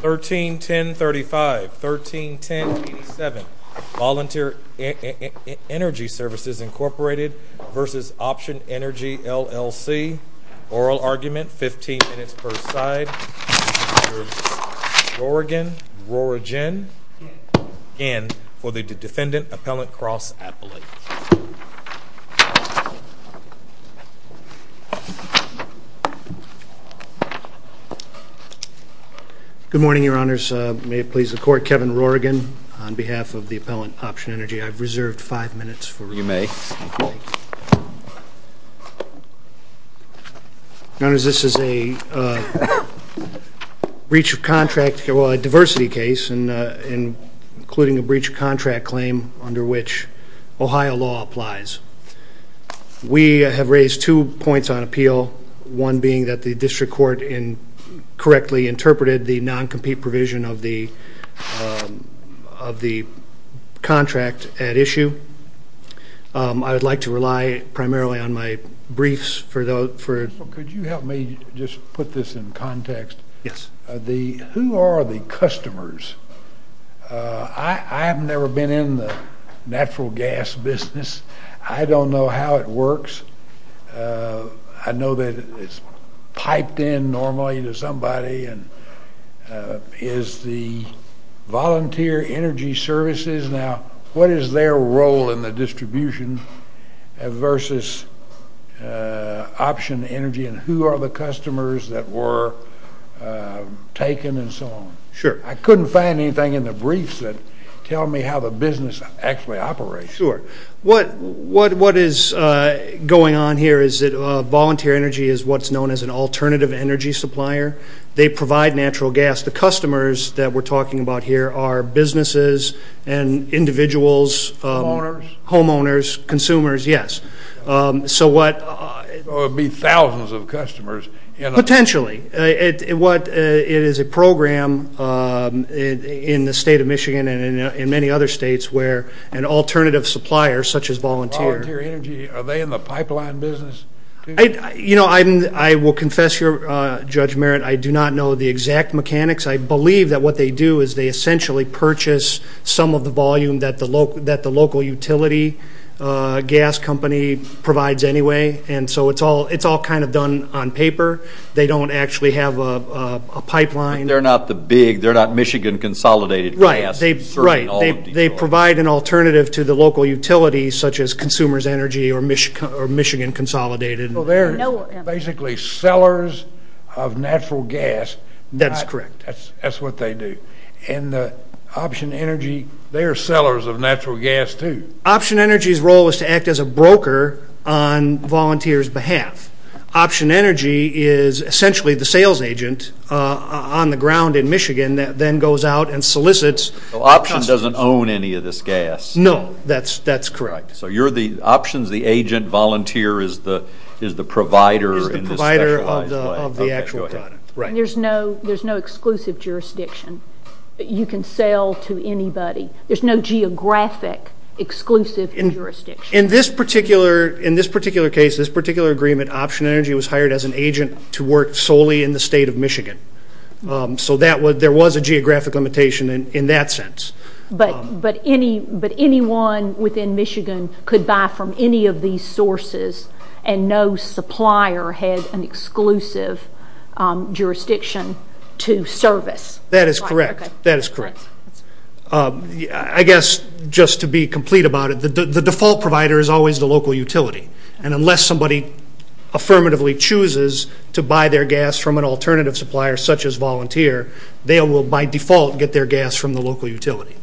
13.10.35 13.10.87 Volunteer Energy Services Incorporated v. Option Energy LLC Oral Argument 15 minutes per side Rorigan, Rorigen, in for the Defendant Appellant Cross-Appellate. Good morning, your honors. May it please the court, Kevin Rorigan on behalf of the Appellant Option Energy. I've reserved five minutes for you. You may. Your honors, this is a breach of contract, well a diversity case, including a breach of contract claim under which Ohio law applies. We have raised two points on appeal, one being that the district court correctly interpreted the non-compete provision of the of the contract at issue. I would like to rely primarily on my briefs for those. Could you help me just put this in context? Yes. Who are the customers? I have never been in the natural gas business. I don't know how it works. I know that it's piped in normally to somebody and is the volunteer energy services now, what is their role in the distribution versus option energy and who are the customers that were taken and so on? Sure. I couldn't find anything in the briefs that tell me how the business actually operates. Sure. What is going on here is that volunteer energy is what's known as an alternative energy supplier. They provide natural gas. The customers that we're talking about here are businesses and individuals, homeowners, consumers, yes. So it would be thousands of customers. Potentially. It is a program in the state of Michigan and in many other states where and all alternative suppliers such as volunteer. Volunteer energy, are they in the pipeline business? You know, I will confess here, Judge Merritt, I do not know the exact mechanics. I believe that what they do is they essentially purchase some of the volume that the local utility gas company provides anyway and so it's all it's all kind of done on paper. They don't actually have a pipeline. They're not the big, they're not Michigan Consolidated Gas. Right. They provide an alternative to the local utilities such as Consumers Energy or Michigan Consolidated. So they're basically sellers of natural gas. That's correct. That's what they do. And Option Energy, they are sellers of natural gas too. Option Energy's role is to act as a broker on volunteers behalf. Option Energy is essentially the sales agent on the ground in Michigan that then goes out and solicits. Option doesn't own any of this gas. No, that's correct. So you're the options, the agent, volunteer is the is the provider? Is the provider of the actual product. Right. There's no exclusive jurisdiction. You can sell to anybody. There's no geographic exclusive jurisdiction. In this particular, in this particular case, this particular agreement, Option Energy was hired as an agent to work solely in the state of Michigan. So that was, there was a geographic limitation in that sense. But, but any, but anyone within Michigan could buy from any of these sources and no supplier has an exclusive jurisdiction to service? That is correct. That is correct. I guess just to be complete about it, the default provider is always the local utility. And unless somebody affirmatively chooses to buy their gas from an alternative supplier such as Option Energy, they can by default get their gas from the local utility.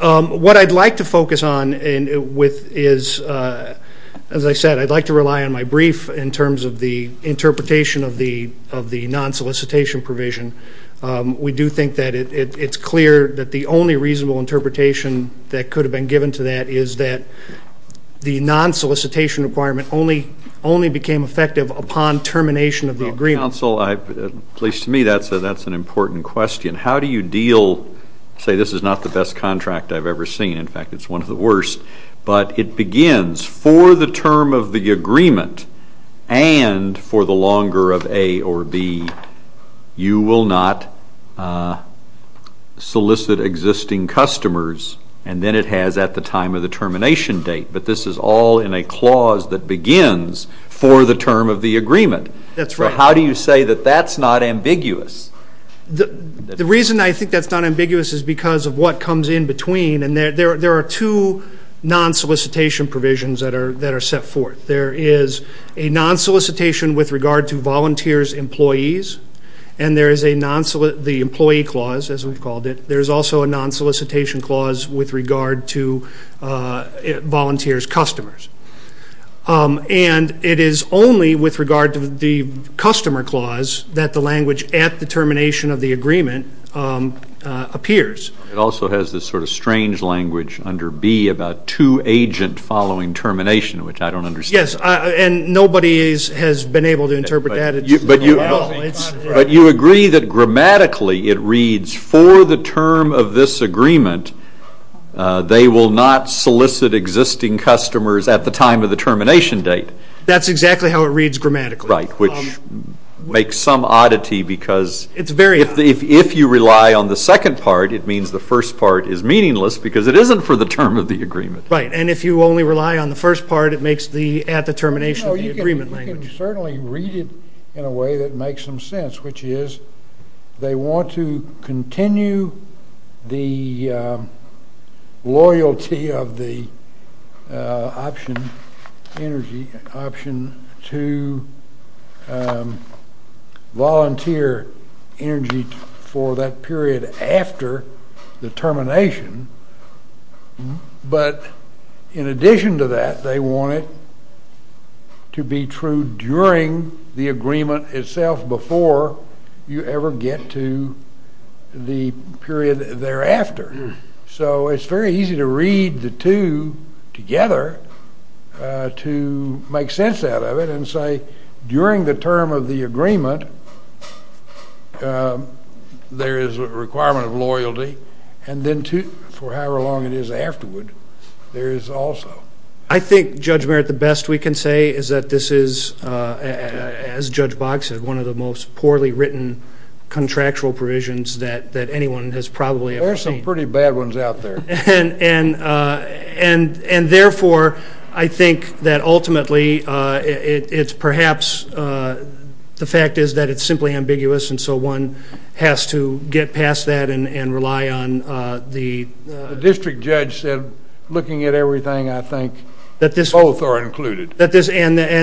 What I'd like to focus on and with is, as I said, I'd like to rely on my brief in terms of the interpretation of the of the non-solicitation provision. We do think that it's clear that the only reasonable interpretation that could have been given to that is that the non-solicitation requirement only only became effective upon termination of the agreement. Council, at least to me, that's an important question. How do you deal, say this is not the best contract I've ever seen, in fact it's one of the worst, but it begins for the term of the agreement and for the longer of A or B, you will not solicit existing customers and then it has at the time of the termination date, but this is all in a clause that begins for the term of the agreement. That's right. How do you say that that's not ambiguous? The reason I think that's not ambiguous is because of what comes in between and there there are two non-solicitation provisions that are that are set forth. There is a non-solicitation with regard to volunteers employees and there is a non-solicitation, the employee clause as we've called it, there's also a non-solicitation clause with regard to volunteers customers. And it is only with regard to the customer clause that the language at the termination of the agreement appears. It also has this sort of strange language under B about two agent following termination, which I don't understand. Yes, and nobody has been able to interpret that at all. But you agree that grammatically it reads for the term of this agreement they will not solicit existing customers at the time of the termination date. That's exactly how it reads grammatically. Right, which makes some oddity because it's very if you rely on the second part it means the first part is meaningless because it isn't for the term of the agreement. Right, and if you only rely on the first part it makes the at the termination of the agreement language. You can certainly read it in a way that option energy option to volunteer energy for that period after the termination. But in addition to that they want it to be true during the agreement itself before you ever get to the period thereafter. So it's very easy to read the two together to make sense out of it and say during the term of the agreement there is a requirement of loyalty and then for however long it is afterward there is also. I think Judge Merritt the best we can say is that this is as Judge Boggs said one of the most poorly written contractual provisions that that anyone has probably ever seen. There are some pretty bad ones out there. And therefore I think that ultimately it's perhaps the fact is that it's simply ambiguous and so one has to get past that and rely on the. The district judge said looking at everything I think both are included. And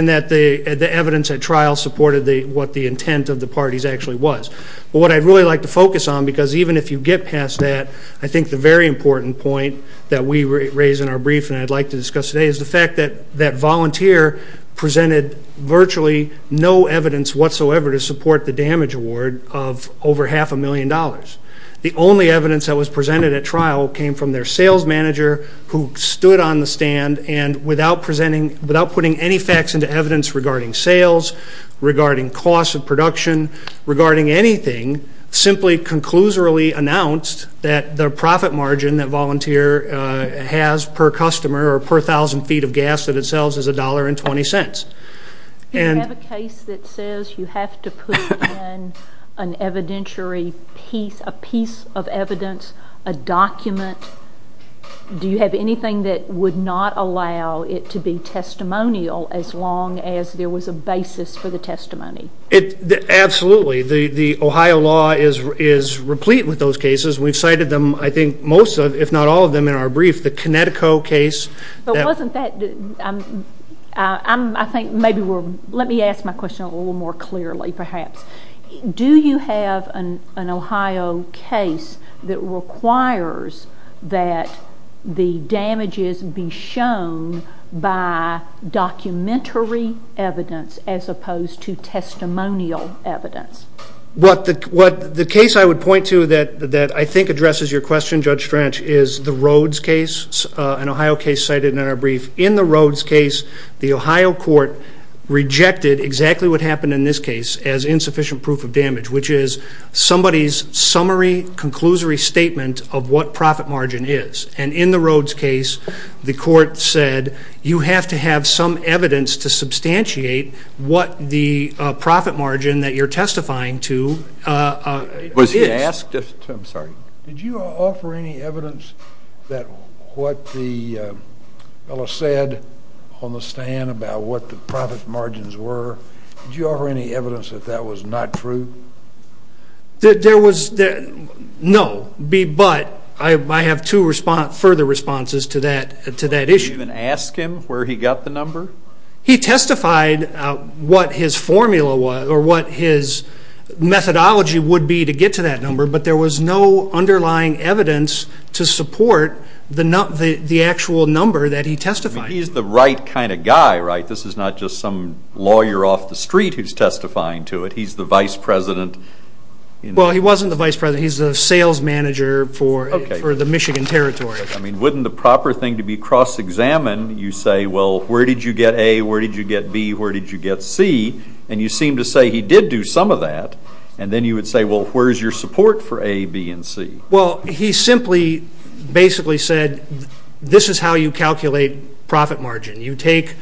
that the evidence at trial supported what the intent of the parties actually was. What I'd really like to I think the very important point that we raised in our brief and I'd like to discuss today is the fact that that volunteer presented virtually no evidence whatsoever to support the damage award of over half a million dollars. The only evidence that was presented at trial came from their sales manager who stood on the stand and without presenting without putting any facts into evidence regarding sales, regarding cost of production, regarding anything simply conclusively announced that their profit margin that volunteer has per customer or per thousand feet of gas that it sells is a dollar and twenty cents. Do you have a case that says you have to put in an evidentiary piece, a piece of evidence, a document? Do you have anything that would not allow it to be testimonial as long as there was a basis for the testimony? Absolutely. The Ohio law is replete with those cases. We've cited them I think most of if not all of them in our brief. The Connecticut case. Let me ask my question a little more clearly perhaps. Do you have an Ohio case that requires that the damages be shown by documentary evidence as opposed to testimonial evidence? The case I would point to that I think addresses your question Judge Strach is the Rhodes case, an Ohio case cited in our brief. In the Rhodes case, the Ohio court rejected exactly what happened in this case as insufficient proof of damage which is somebody's summary, conclusory statement of what profit margin is. And in the Rhodes case, the court said you have to have some evidence to substantiate what the profit margin that you're testifying to is. Did you offer any evidence that what the fellow said on the stand about what the profit margins were, did you offer any evidence that that was not true? No, but I have two further responses to that issue. Did you even ask him where he got the number? He testified what his formula was or what his methodology would be to get to that number but there was no underlying evidence to support the actual number that he testified to. He's the right kind of guy, right? This is not just some lawyer off the street who's testifying to it. He's the vice president. Well, he wasn't the vice president. He's the sales manager for the Michigan Territory. I mean, wouldn't the proper thing to be cross-examined? You say, well, where did you get A, where did you get B, where did you get C? And you seem to say he did do some of that. And then you would say, well, where's your support for A, B and C? Well, he simply basically said, this is how you calculate profit margin. You take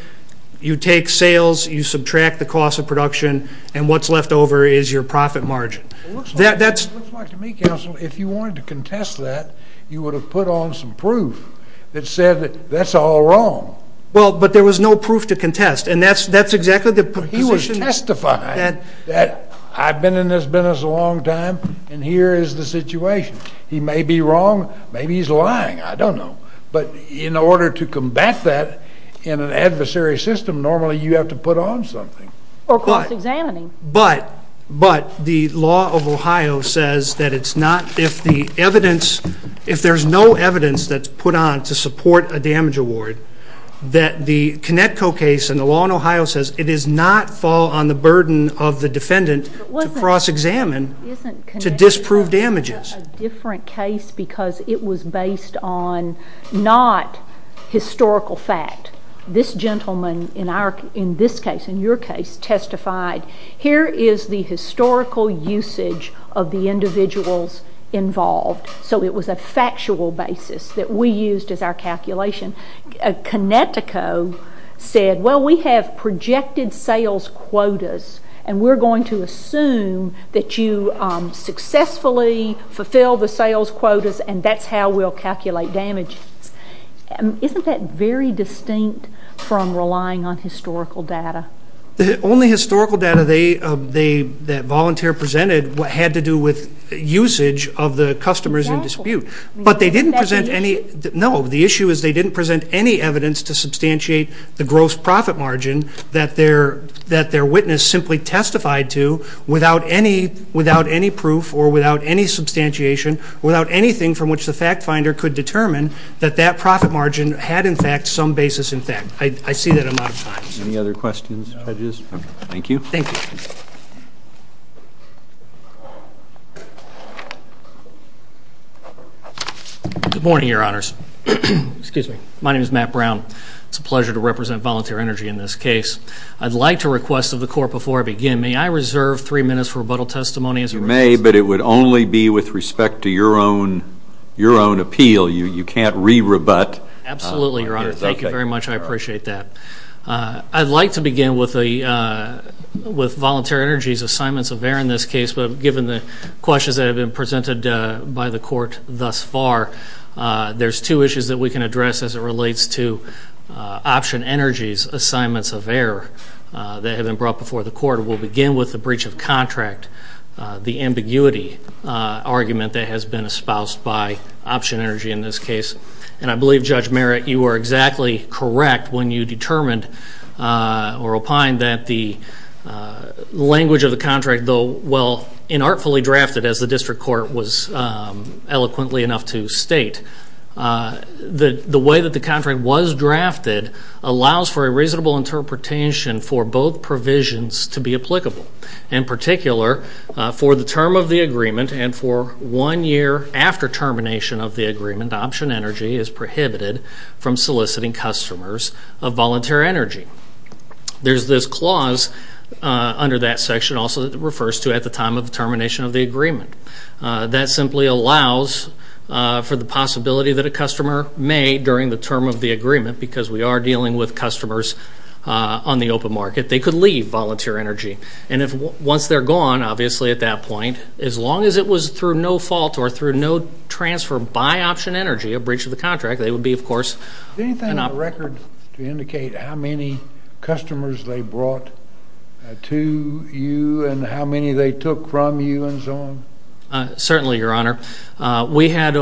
sales, you subtract the cost of production, and what's left over is your profit margin. It looks like to me, counsel, if you wanted to contest that, you would have put on some proof that said that that's all wrong. Well, but there was no proof to contest, and that's exactly the position. He was testifying that I've been in this business a long time, and here is the situation. He may be wrong, maybe he's lying, I don't know. But in order to combat that in an adversary system, normally you have to put on something. Or cross-examining. But, but, the law of Ohio says that it's not, if the evidence, if there's no evidence that's put on to support a damage award, that the Conneco case and the law in Ohio says it does not fall on the burden of the defendant to cross-examine to disprove damages. It's a different case because it was based on not historical fact. This gentleman in our, in this case, in your case, testified, here is the historical usage of the individuals involved. So it was a factual basis that we used as our calculation. Conneco said, well, we have projected sales quotas, and we're going to assume that you successfully fulfill the sales quotas, and that's how we'll calculate damages. Isn't that very distinct from relying on historical data? The only historical data they, that volunteer presented had to do with usage of the customers in dispute. But they didn't present any, no, the issue is they didn't present any evidence to substantiate the gross profit margin that their witness simply testified to without any, without any proof or without any substantiation, without anything from which the fact finder could determine that that profit margin had in fact some basis in fact. I see that I'm out of time. Any other questions, judges? No. Thank you. Thank you. Good morning, your honors. Excuse me. My name is Matt Brown. It's a pleasure to represent Volunteer Energy in this case. I'd like to request of the court before I begin, may I reserve three minutes for rebuttal testimony? You may, but it would only be with respect to your own, your own appeal. You can't re-rebut. Absolutely, your honor. Okay. Thank you very much. I appreciate that. I'd like to begin with the, with Volunteer Energy's assignments of error in this case. But given the questions that have been presented by the court thus far, there's two issues that we can address as it relates to Option Energy's assignments of error that have been brought before the court. We'll begin with the breach of contract, the ambiguity argument that has been espoused by Option Energy in this case. And I believe, Judge Merritt, you were exactly correct when you determined or opined that the language of the contract, though well and artfully drafted as the district court was eloquently enough to state, the way that the contract was drafted allows for a reasonable interpretation for both provisions to be applicable. In particular, for the term of the agreement and for one year after termination of the agreement, Option Energy is prohibited from soliciting customers of Volunteer Energy. There's this clause under that section also that refers to at the time of the termination of the agreement. That simply allows for the possibility that a customer may, during the term of the agreement, because we are dealing with customers on the open market, they could leave Volunteer Energy. And once they're gone, obviously, at that point, as long as it was through no fault or through no transfer by Option Energy, a breach of the contract, they would be, of course, an option. Anything on the record to indicate how many customers they brought to you and how many they took from you and so on? Certainly, Your Honor. We had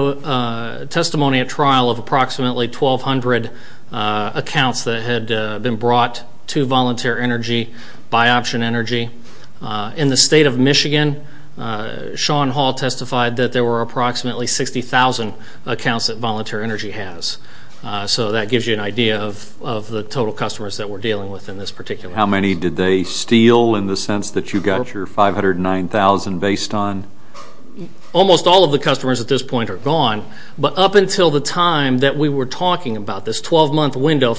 testimony at trial of approximately 1,200 accounts that had been brought to Volunteer Energy by Option Energy. In the state of Michigan, Sean Hall testified that there were approximately 60,000 accounts that Volunteer Energy has. So that gives you an idea of the total customers that we're dealing with in this particular case. How many did they steal in the sense that you got your 509,000 based on? Almost all of the customers at this point are gone. But up until the time that we were talking about this 12-month window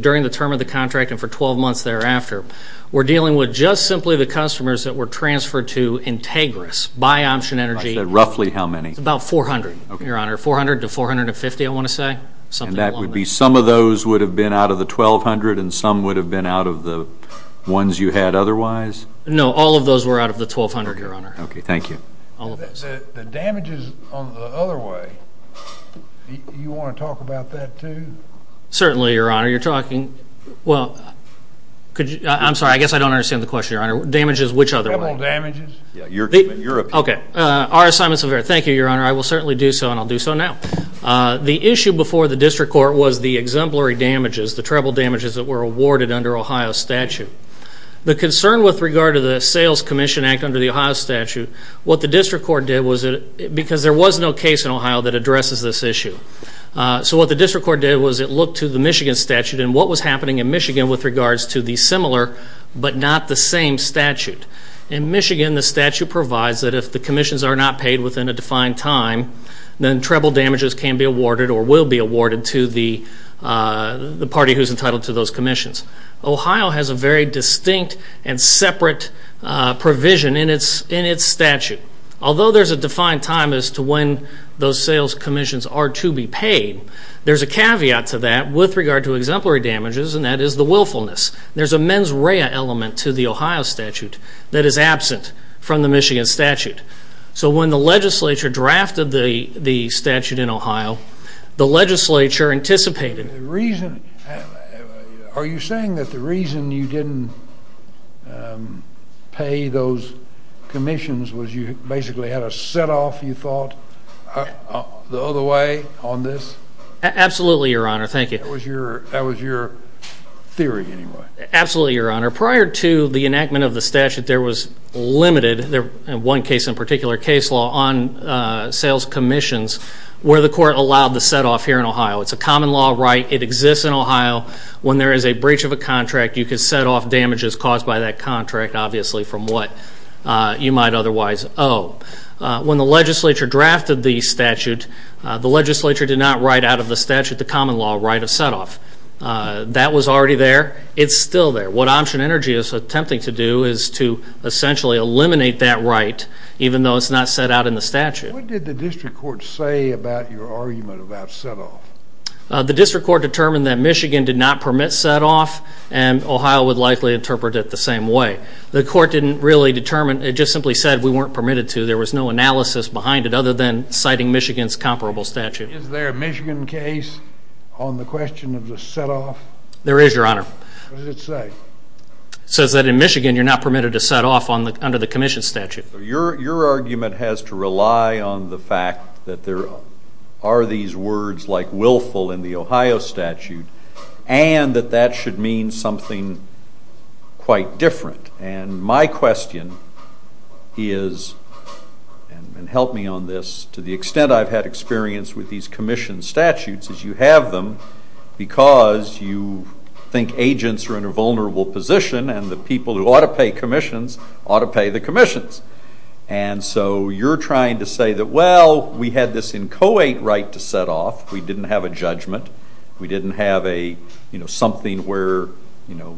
during the term of the contract and for 12 months thereafter, we're dealing with just simply the customers that were transferred to Integris by Option Energy. Roughly how many? About 400, Your Honor, 400 to 450, I want to say. And that would be some of those would have been out of the 1,200 and some would have been out of the ones you had otherwise? No, all of those were out of the 1,200, Your Honor. Okay, thank you. All of those. The damages on the other way, you want to talk about that too? Certainly, Your Honor. You're talking, well, could you, I'm sorry, I guess I don't understand the question, Your Honor. Damages which other way? Treble damages. Yeah, your opinion. Okay. R.S. Simons, thank you, Your Honor. I will certainly do so and I'll do so now. The issue before the district court was the exemplary damages, the treble damages that were awarded under Ohio statute. The concern with regard to the sales commission act under the Ohio statute, what the district court did was because there was no case in Ohio that addresses this issue. So what the district court did was it looked to the Michigan statute and what was happening in Michigan with regards to the similar but not the same statute. In Michigan, the statute provides that if the commissions are not paid within a defined time, then treble damages can be awarded or will be awarded to the party who is entitled to those commissions. Ohio has a very distinct and separate provision in its statute. Although there's a defined time as to when those sales commissions are to be paid, there's a caveat to that with regard to exemplary damages and that is the willfulness. There's a mens rea element to the Ohio statute that is absent from the Michigan statute. So when the legislature drafted the statute in Ohio, the legislature anticipated. The reason, are you saying that the reason you didn't pay those commissions was you basically had a set off, you thought, the other way on this? Absolutely, Your Honor. Thank you. That was your theory anyway. Absolutely, Your Honor. Prior to the enactment of the statute, there was limited, in one case in particular, case law on sales commissions where the court allowed the set off here in Ohio. It's a common law right. It exists in Ohio. When there is a breach of a contract, you can set off damages caused by that contract, obviously, from what you might otherwise owe. When the legislature drafted the statute, the legislature did not write out of the statute the common law right of set off. That was already there. It's still there. What Option Energy is attempting to do is to essentially eliminate that right, even though it's not set out in the statute. What did the district court say about your argument about set off? The district court determined that Michigan did not permit set off, and Ohio would likely interpret it the same way. The court didn't really determine. It just simply said we weren't permitted to. There was no analysis behind it other than citing Michigan's comparable statute. Is there a Michigan case on the question of the set off? There is, Your Honor. What does it say? It says that in Michigan you're not permitted to set off under the commission statute. Your argument has to rely on the fact that there are these words like willful in the Ohio statute and that that should mean something quite different. My question is, and help me on this, to the extent I've had experience with these commission statutes is you have them because you think agents are in a vulnerable position and the people who ought to pay commissions ought to pay the commissions. And so you're trying to say that, well, we had this inchoate right to set off. We didn't have a judgment. We didn't have something where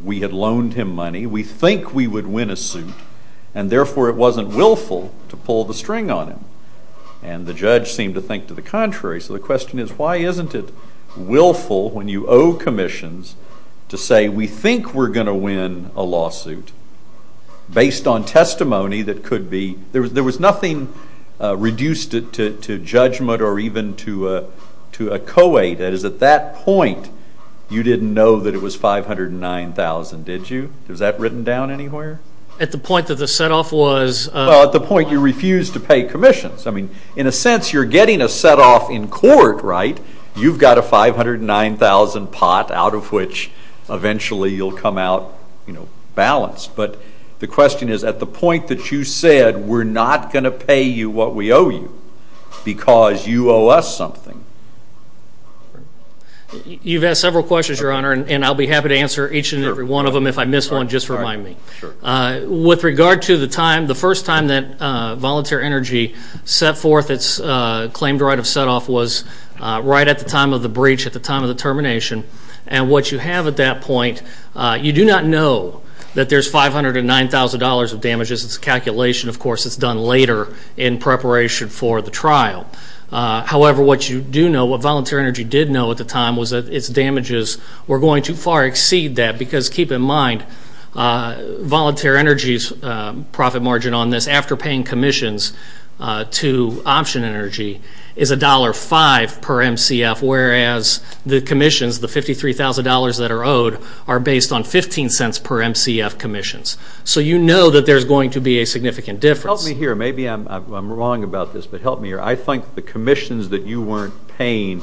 we had loaned him money. We think we would win a suit, and therefore it wasn't willful to pull the string on him. And the judge seemed to think to the contrary. So the question is, why isn't it willful when you owe commissions to say we think we're going to win a lawsuit based on testimony that could be? There was nothing reduced to judgment or even to a co-ed. That is, at that point you didn't know that it was $509,000, did you? Was that written down anywhere? At the point that the set off was? Well, at the point you refused to pay commissions. I mean, in a sense, you're getting a set off in court, right? You've got a $509,000 pot out of which eventually you'll come out balanced. But the question is, at the point that you said we're not going to pay you what we owe you because you owe us something. You've asked several questions, Your Honor, and I'll be happy to answer each and every one of them. If I miss one, just remind me. With regard to the time, the first time that Volunteer Energy set forth its claimed right of set off was right at the time of the breach at the time of the termination. And what you have at that point, you do not know that there's $509,000 of damages. It's a calculation, of course, that's done later in preparation for the trial. However, what you do know, what Volunteer Energy did know at the time, was that its damages were going to far exceed that because, keep in mind, Volunteer Energy's profit margin on this after paying commissions to Option Energy is $1.05 per MCF, whereas the commissions, the $53,000 that are owed, are based on 15 cents per MCF commissions. So you know that there's going to be a significant difference. Help me here. Maybe I'm wrong about this, but help me here. I think the commissions that you weren't paying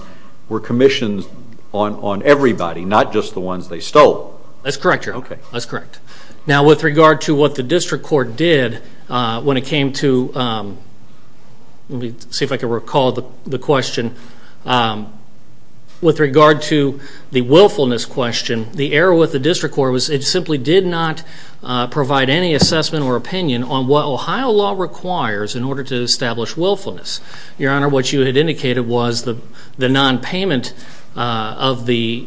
were commissions on everybody, not just the ones they stole. That's correct, Your Honor. That's correct. Now, with regard to what the district court did when it came to, let me see if I can recall the question. With regard to the willfulness question, the error with the district court was it simply did not provide any assessment or opinion on what Ohio law requires in order to establish willfulness. Your Honor, what you had indicated was the nonpayment of the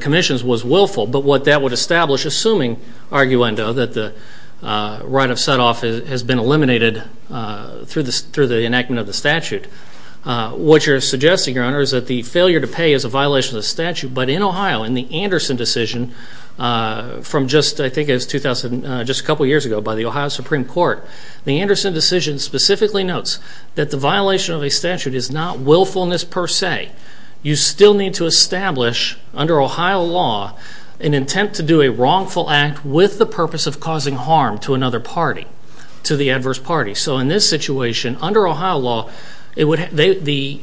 commissions was willful, but what that would establish, assuming, arguendo, that the right of setoff has been eliminated through the enactment of the statute. What you're suggesting, Your Honor, is that the failure to pay is a violation of the statute, but in Ohio in the Anderson decision from just, I think it was 2000, just a couple years ago by the Ohio Supreme Court, the Anderson decision specifically notes that the violation of a statute is not willfulness per se. You still need to establish under Ohio law an intent to do a wrongful act with the purpose of causing harm to another party, to the adverse party. So in this situation, under Ohio law, the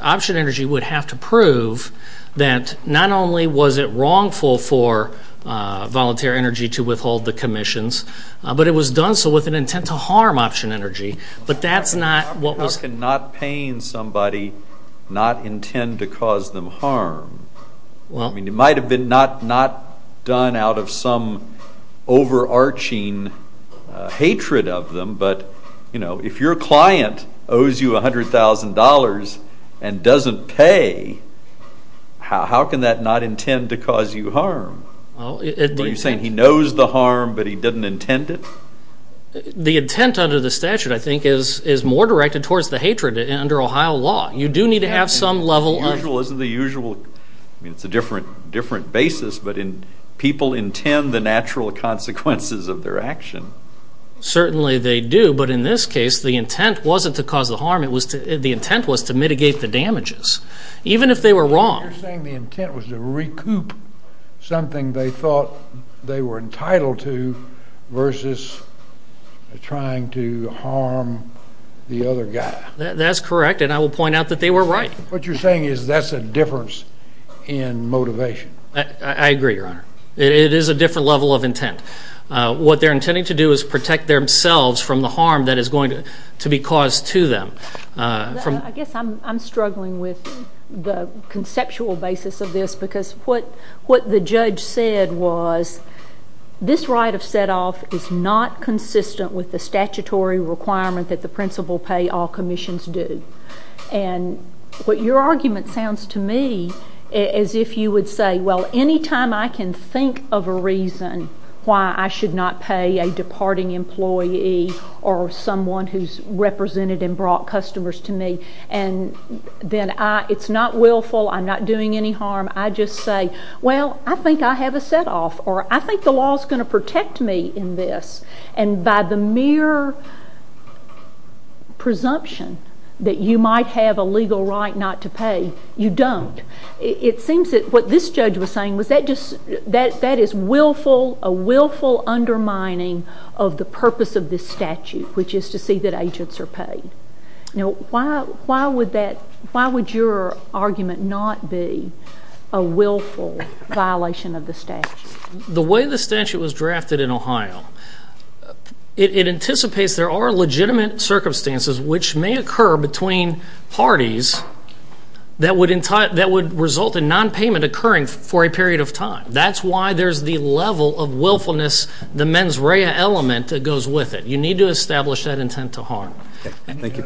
option energy would have to prove that not only was it wrongful for voluntary energy to withhold the commissions, but it was done so with an intent to harm option energy. But that's not what was... How can not paying somebody not intend to cause them harm? It might have been not done out of some overarching hatred of them, but if your client owes you $100,000 and doesn't pay, how can that not intend to cause you harm? Are you saying he knows the harm, but he doesn't intend it? The intent under the statute, I think, is more directed towards the hatred under Ohio law. You do need to have some level of... The usual isn't the usual. I mean, it's a different basis, but people intend the natural consequences of their action. Certainly they do, but in this case, the intent wasn't to cause the harm. The intent was to mitigate the damages, even if they were wrong. You're saying the intent was to recoup something they thought they were entitled to versus trying to harm the other guy. That's correct, and I will point out that they were right. What you're saying is that's a difference in motivation. I agree, Your Honor. It is a different level of intent. What they're intending to do is protect themselves from the harm that is going to be caused to them. I guess I'm struggling with the conceptual basis of this, because what the judge said was this right of set-off is not consistent with the statutory requirement that the principal pay all commissions do. And what your argument sounds to me is if you would say, well, any time I can think of a reason why I should not pay a departing employee or someone who's represented and brought customers to me, and then it's not willful, I'm not doing any harm, I just say, well, I think I have a set-off, or I think the law's going to protect me in this. And by the mere presumption that you might have a legal right not to pay, you don't. It seems that what this judge was saying was that is a willful undermining of the purpose of this statute, which is to see that agents are paid. Now, why would your argument not be a willful violation of the statute? The way the statute was drafted in Ohio, it anticipates there are legitimate circumstances which may occur between parties that would result in nonpayment occurring for a period of time. That's why there's the level of willfulness, the mens rea element that goes with it. You need to establish that intent to harm. Thank you.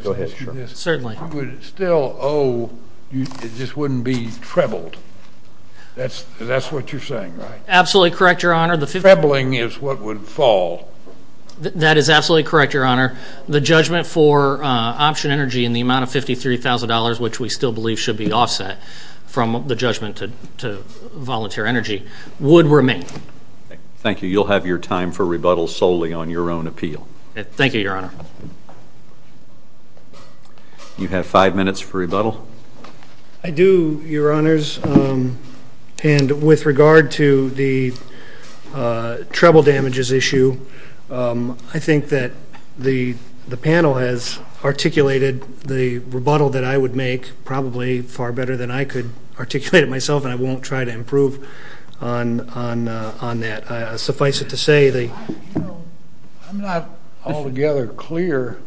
Go ahead. Certainly. You would still owe, it just wouldn't be trebled. That's what you're saying, right? Absolutely correct, Your Honor. Trebling is what would fall. That is absolutely correct, Your Honor. The judgment for option energy in the amount of $53,000, which we still believe should be offset from the judgment to volunteer energy, would remain. Thank you. You'll have your time for rebuttal solely on your own appeal. Thank you, Your Honor. You have five minutes for rebuttal. I do, Your Honors. And with regard to the treble damages issue, I think that the panel has articulated the rebuttal that I would make probably far better than I could articulate it myself, and I won't try to improve on that. Suffice it to say, the ---- I'm not altogether clear.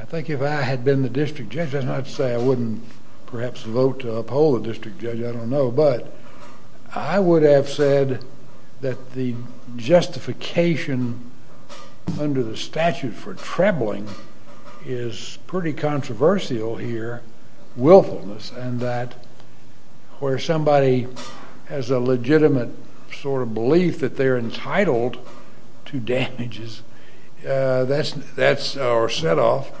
I think if I had been the district judge, I'd say I wouldn't perhaps vote to uphold the district judge. I don't know. But I would have said that the justification under the statute for trebling is pretty controversial here, willfulness, and that where somebody has a legitimate sort of belief that they're entitled to damages, that's our setoff.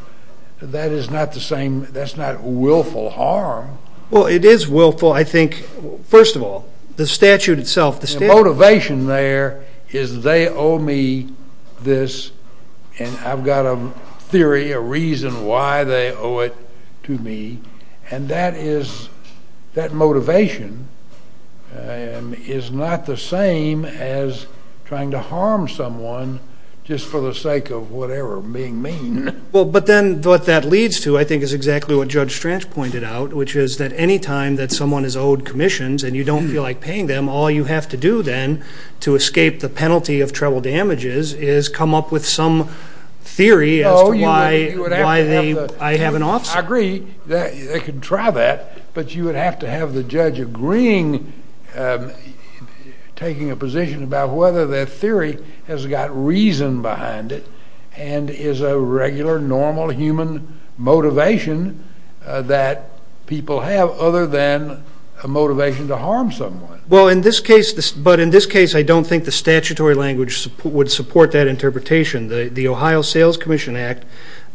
That is not the same. That's not willful harm. Well, it is willful, I think, first of all, the statute itself. The motivation there is they owe me this, and I've got a theory, a reason why they owe it to me, and that motivation is not the same as trying to harm someone just for the sake of whatever being mean. Well, but then what that leads to, I think, is exactly what Judge Stranch pointed out, which is that any time that someone is owed commissions and you don't feel like paying them, all you have to do then to escape the penalty of treble damages is come up with some theory as to why I have an offset. I agree. They can try that, but you would have to have the judge agreeing, taking a position about whether that theory has got reason behind it and is a regular, normal, human motivation that people have other than a motivation to harm someone. Well, in this case, but in this case, I don't think the statutory language would support that interpretation. The Ohio Sales Commission Act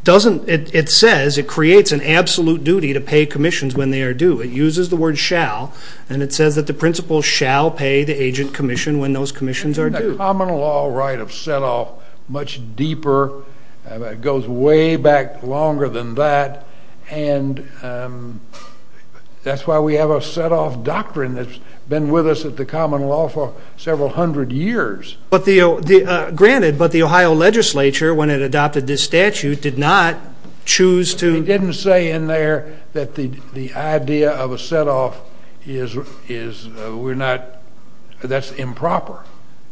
says it creates an absolute duty to pay commissions when they are due. It uses the word shall, and it says that the principal shall pay the agent commission when those commissions are due. And the common law right of set-off, much deeper, goes way back longer than that, and that's why we have a set-off doctrine that's been with us at the common law for several hundred years. Granted, but the Ohio legislature, when it adopted this statute, did not choose to... They didn't say in there that the idea of a set-off is improper.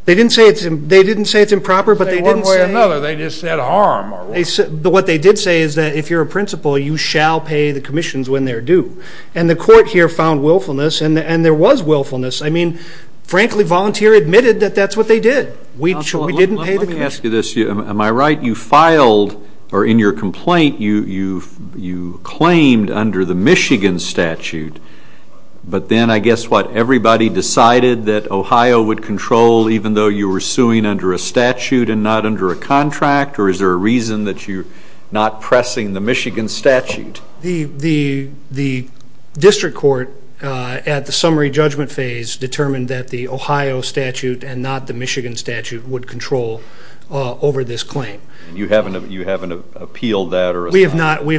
They didn't say it's improper, but they didn't say... They didn't say one way or another. They just said harm. What they did say is that if you're a principal, you shall pay the commissions when they're due. And the court here found willfulness, and there was willfulness. I mean, frankly, Volunteer admitted that that's what they did. We didn't pay the commission. Let me ask you this. Am I right? You filed, or in your complaint, you claimed under the Michigan statute, but then I guess what, everybody decided that Ohio would control even though you were suing under a statute and not under a contract, or is there a reason that you're not pressing the Michigan statute? The district court at the summary judgment phase determined that the Ohio statute and not the Michigan statute would control over this claim. And you haven't appealed that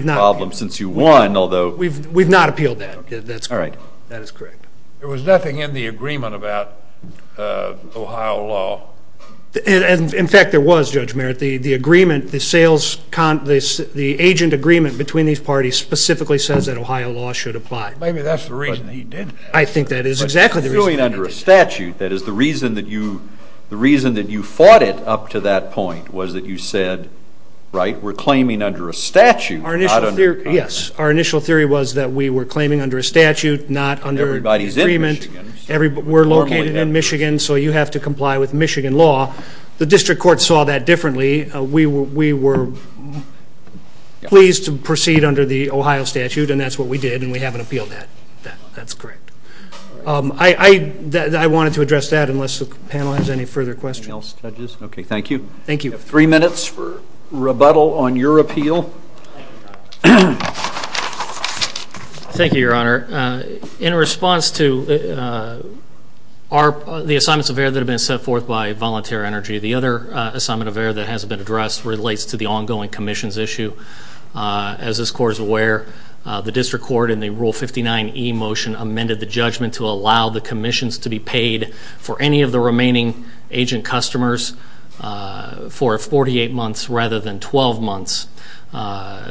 problem since you won, although... We've not appealed that. All right. That is correct. There was nothing in the agreement about Ohio law. In fact, there was, Judge Merritt. The agreement, the agent agreement between these parties specifically says that Ohio law should apply. Maybe that's the reason he did that. I think that is exactly the reason. But suing under a statute, that is the reason that you fought it up to that point, was that you said, right, we're claiming under a statute, not under a contract. Yes. Our initial theory was that we were claiming under a statute, not under agreement. Everybody's in Michigan. We're located in Michigan, so you have to comply with Michigan law. The district court saw that differently. We were pleased to proceed under the Ohio statute, and that's what we did, and we haven't appealed that. That's correct. I wanted to address that unless the panel has any further questions. Anything else, judges? Okay. Thank you. Thank you. We have three minutes for rebuttal on your appeal. Thank you, Your Honor. In response to the assignments of error that have been set forth by Voluntary Energy, the other assignment of error that hasn't been addressed relates to the ongoing commissions issue. As this court is aware, the district court in the Rule 59e motion amended the judgment to allow the commissions to be paid for any of the remaining agent customers for 48 months rather than 12 months.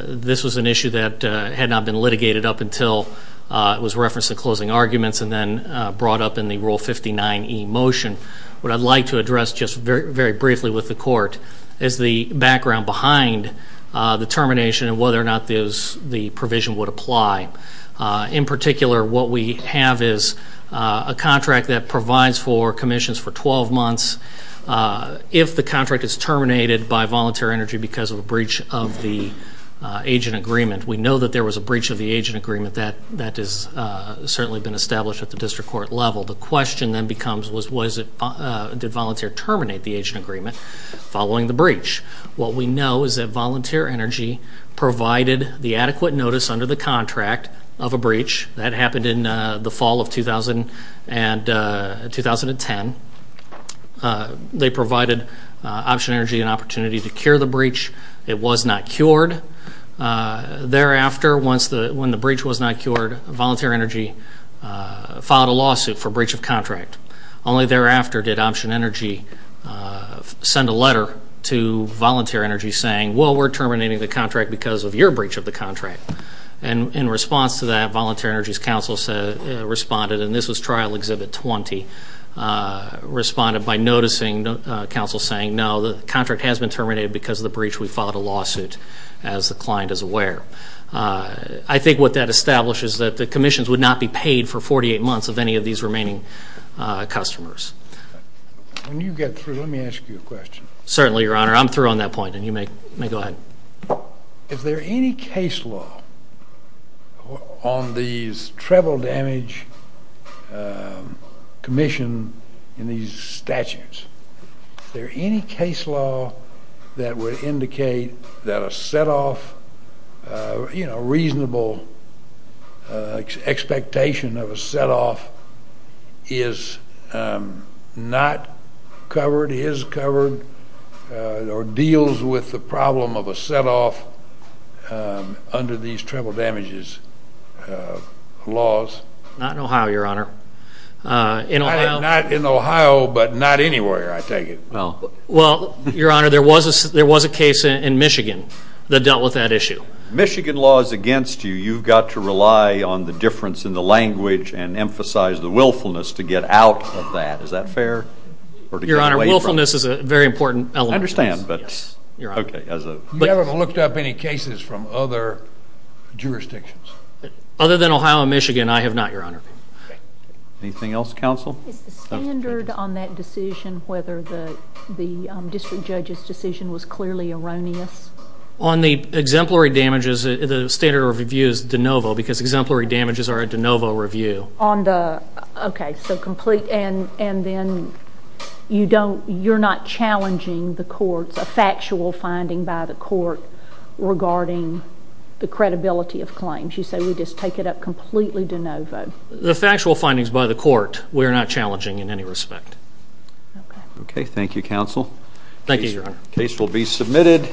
This was an issue that had not been litigated up until it was referenced in closing arguments and then brought up in the Rule 59e motion. What I'd like to address just very briefly with the court is the background behind the termination and whether or not the provision would apply. In particular, what we have is a contract that provides for commissions for 12 months. If the contract is terminated by Voluntary Energy because of a breach of the agent agreement, we know that there was a breach of the agent agreement that has certainly been established at the district court level. The question then becomes did Voluntary Terminate the agent agreement following the breach? What we know is that Voluntary Energy provided the adequate notice under the contract of a breach. That happened in the fall of 2010. They provided Option Energy an opportunity to cure the breach. It was not cured. Thereafter, when the breach was not cured, Voluntary Energy filed a lawsuit for breach of contract. Only thereafter did Option Energy send a letter to Voluntary Energy saying, well, we're terminating the contract because of your breach of the contract. In response to that, Voluntary Energy's counsel responded, and this was Trial Exhibit 20, responded by noticing counsel saying, no, the contract has been terminated because of the breach. We filed a lawsuit as the client is aware. I think what that establishes is that the commissions would not be paid for 48 months of any of these remaining customers. When you get through, let me ask you a question. Certainly, Your Honor. I'm through on that point, and you may go ahead. If there are any case law on these treble damage commission in these statutes, if there are any case law that would indicate that a setoff, you know, deals with the problem of a setoff under these treble damages laws. Not in Ohio, Your Honor. Not in Ohio, but not anywhere, I take it. Well, Your Honor, there was a case in Michigan that dealt with that issue. Michigan law is against you. You've got to rely on the difference in the language and emphasize the willfulness to get out of that. Is that fair? Your Honor, willfulness is a very important element. I understand, but you're okay. You haven't looked up any cases from other jurisdictions? Other than Ohio and Michigan, I have not, Your Honor. Anything else, counsel? Is the standard on that decision, whether the district judge's decision was clearly erroneous? On the exemplary damages, the standard of review is de novo because exemplary damages are a de novo review. Okay, so complete, and then you're not challenging the courts, a factual finding by the court regarding the credibility of claims. You say we just take it up completely de novo. The factual findings by the court we're not challenging in any respect. Okay, thank you, counsel. The case will be submitted.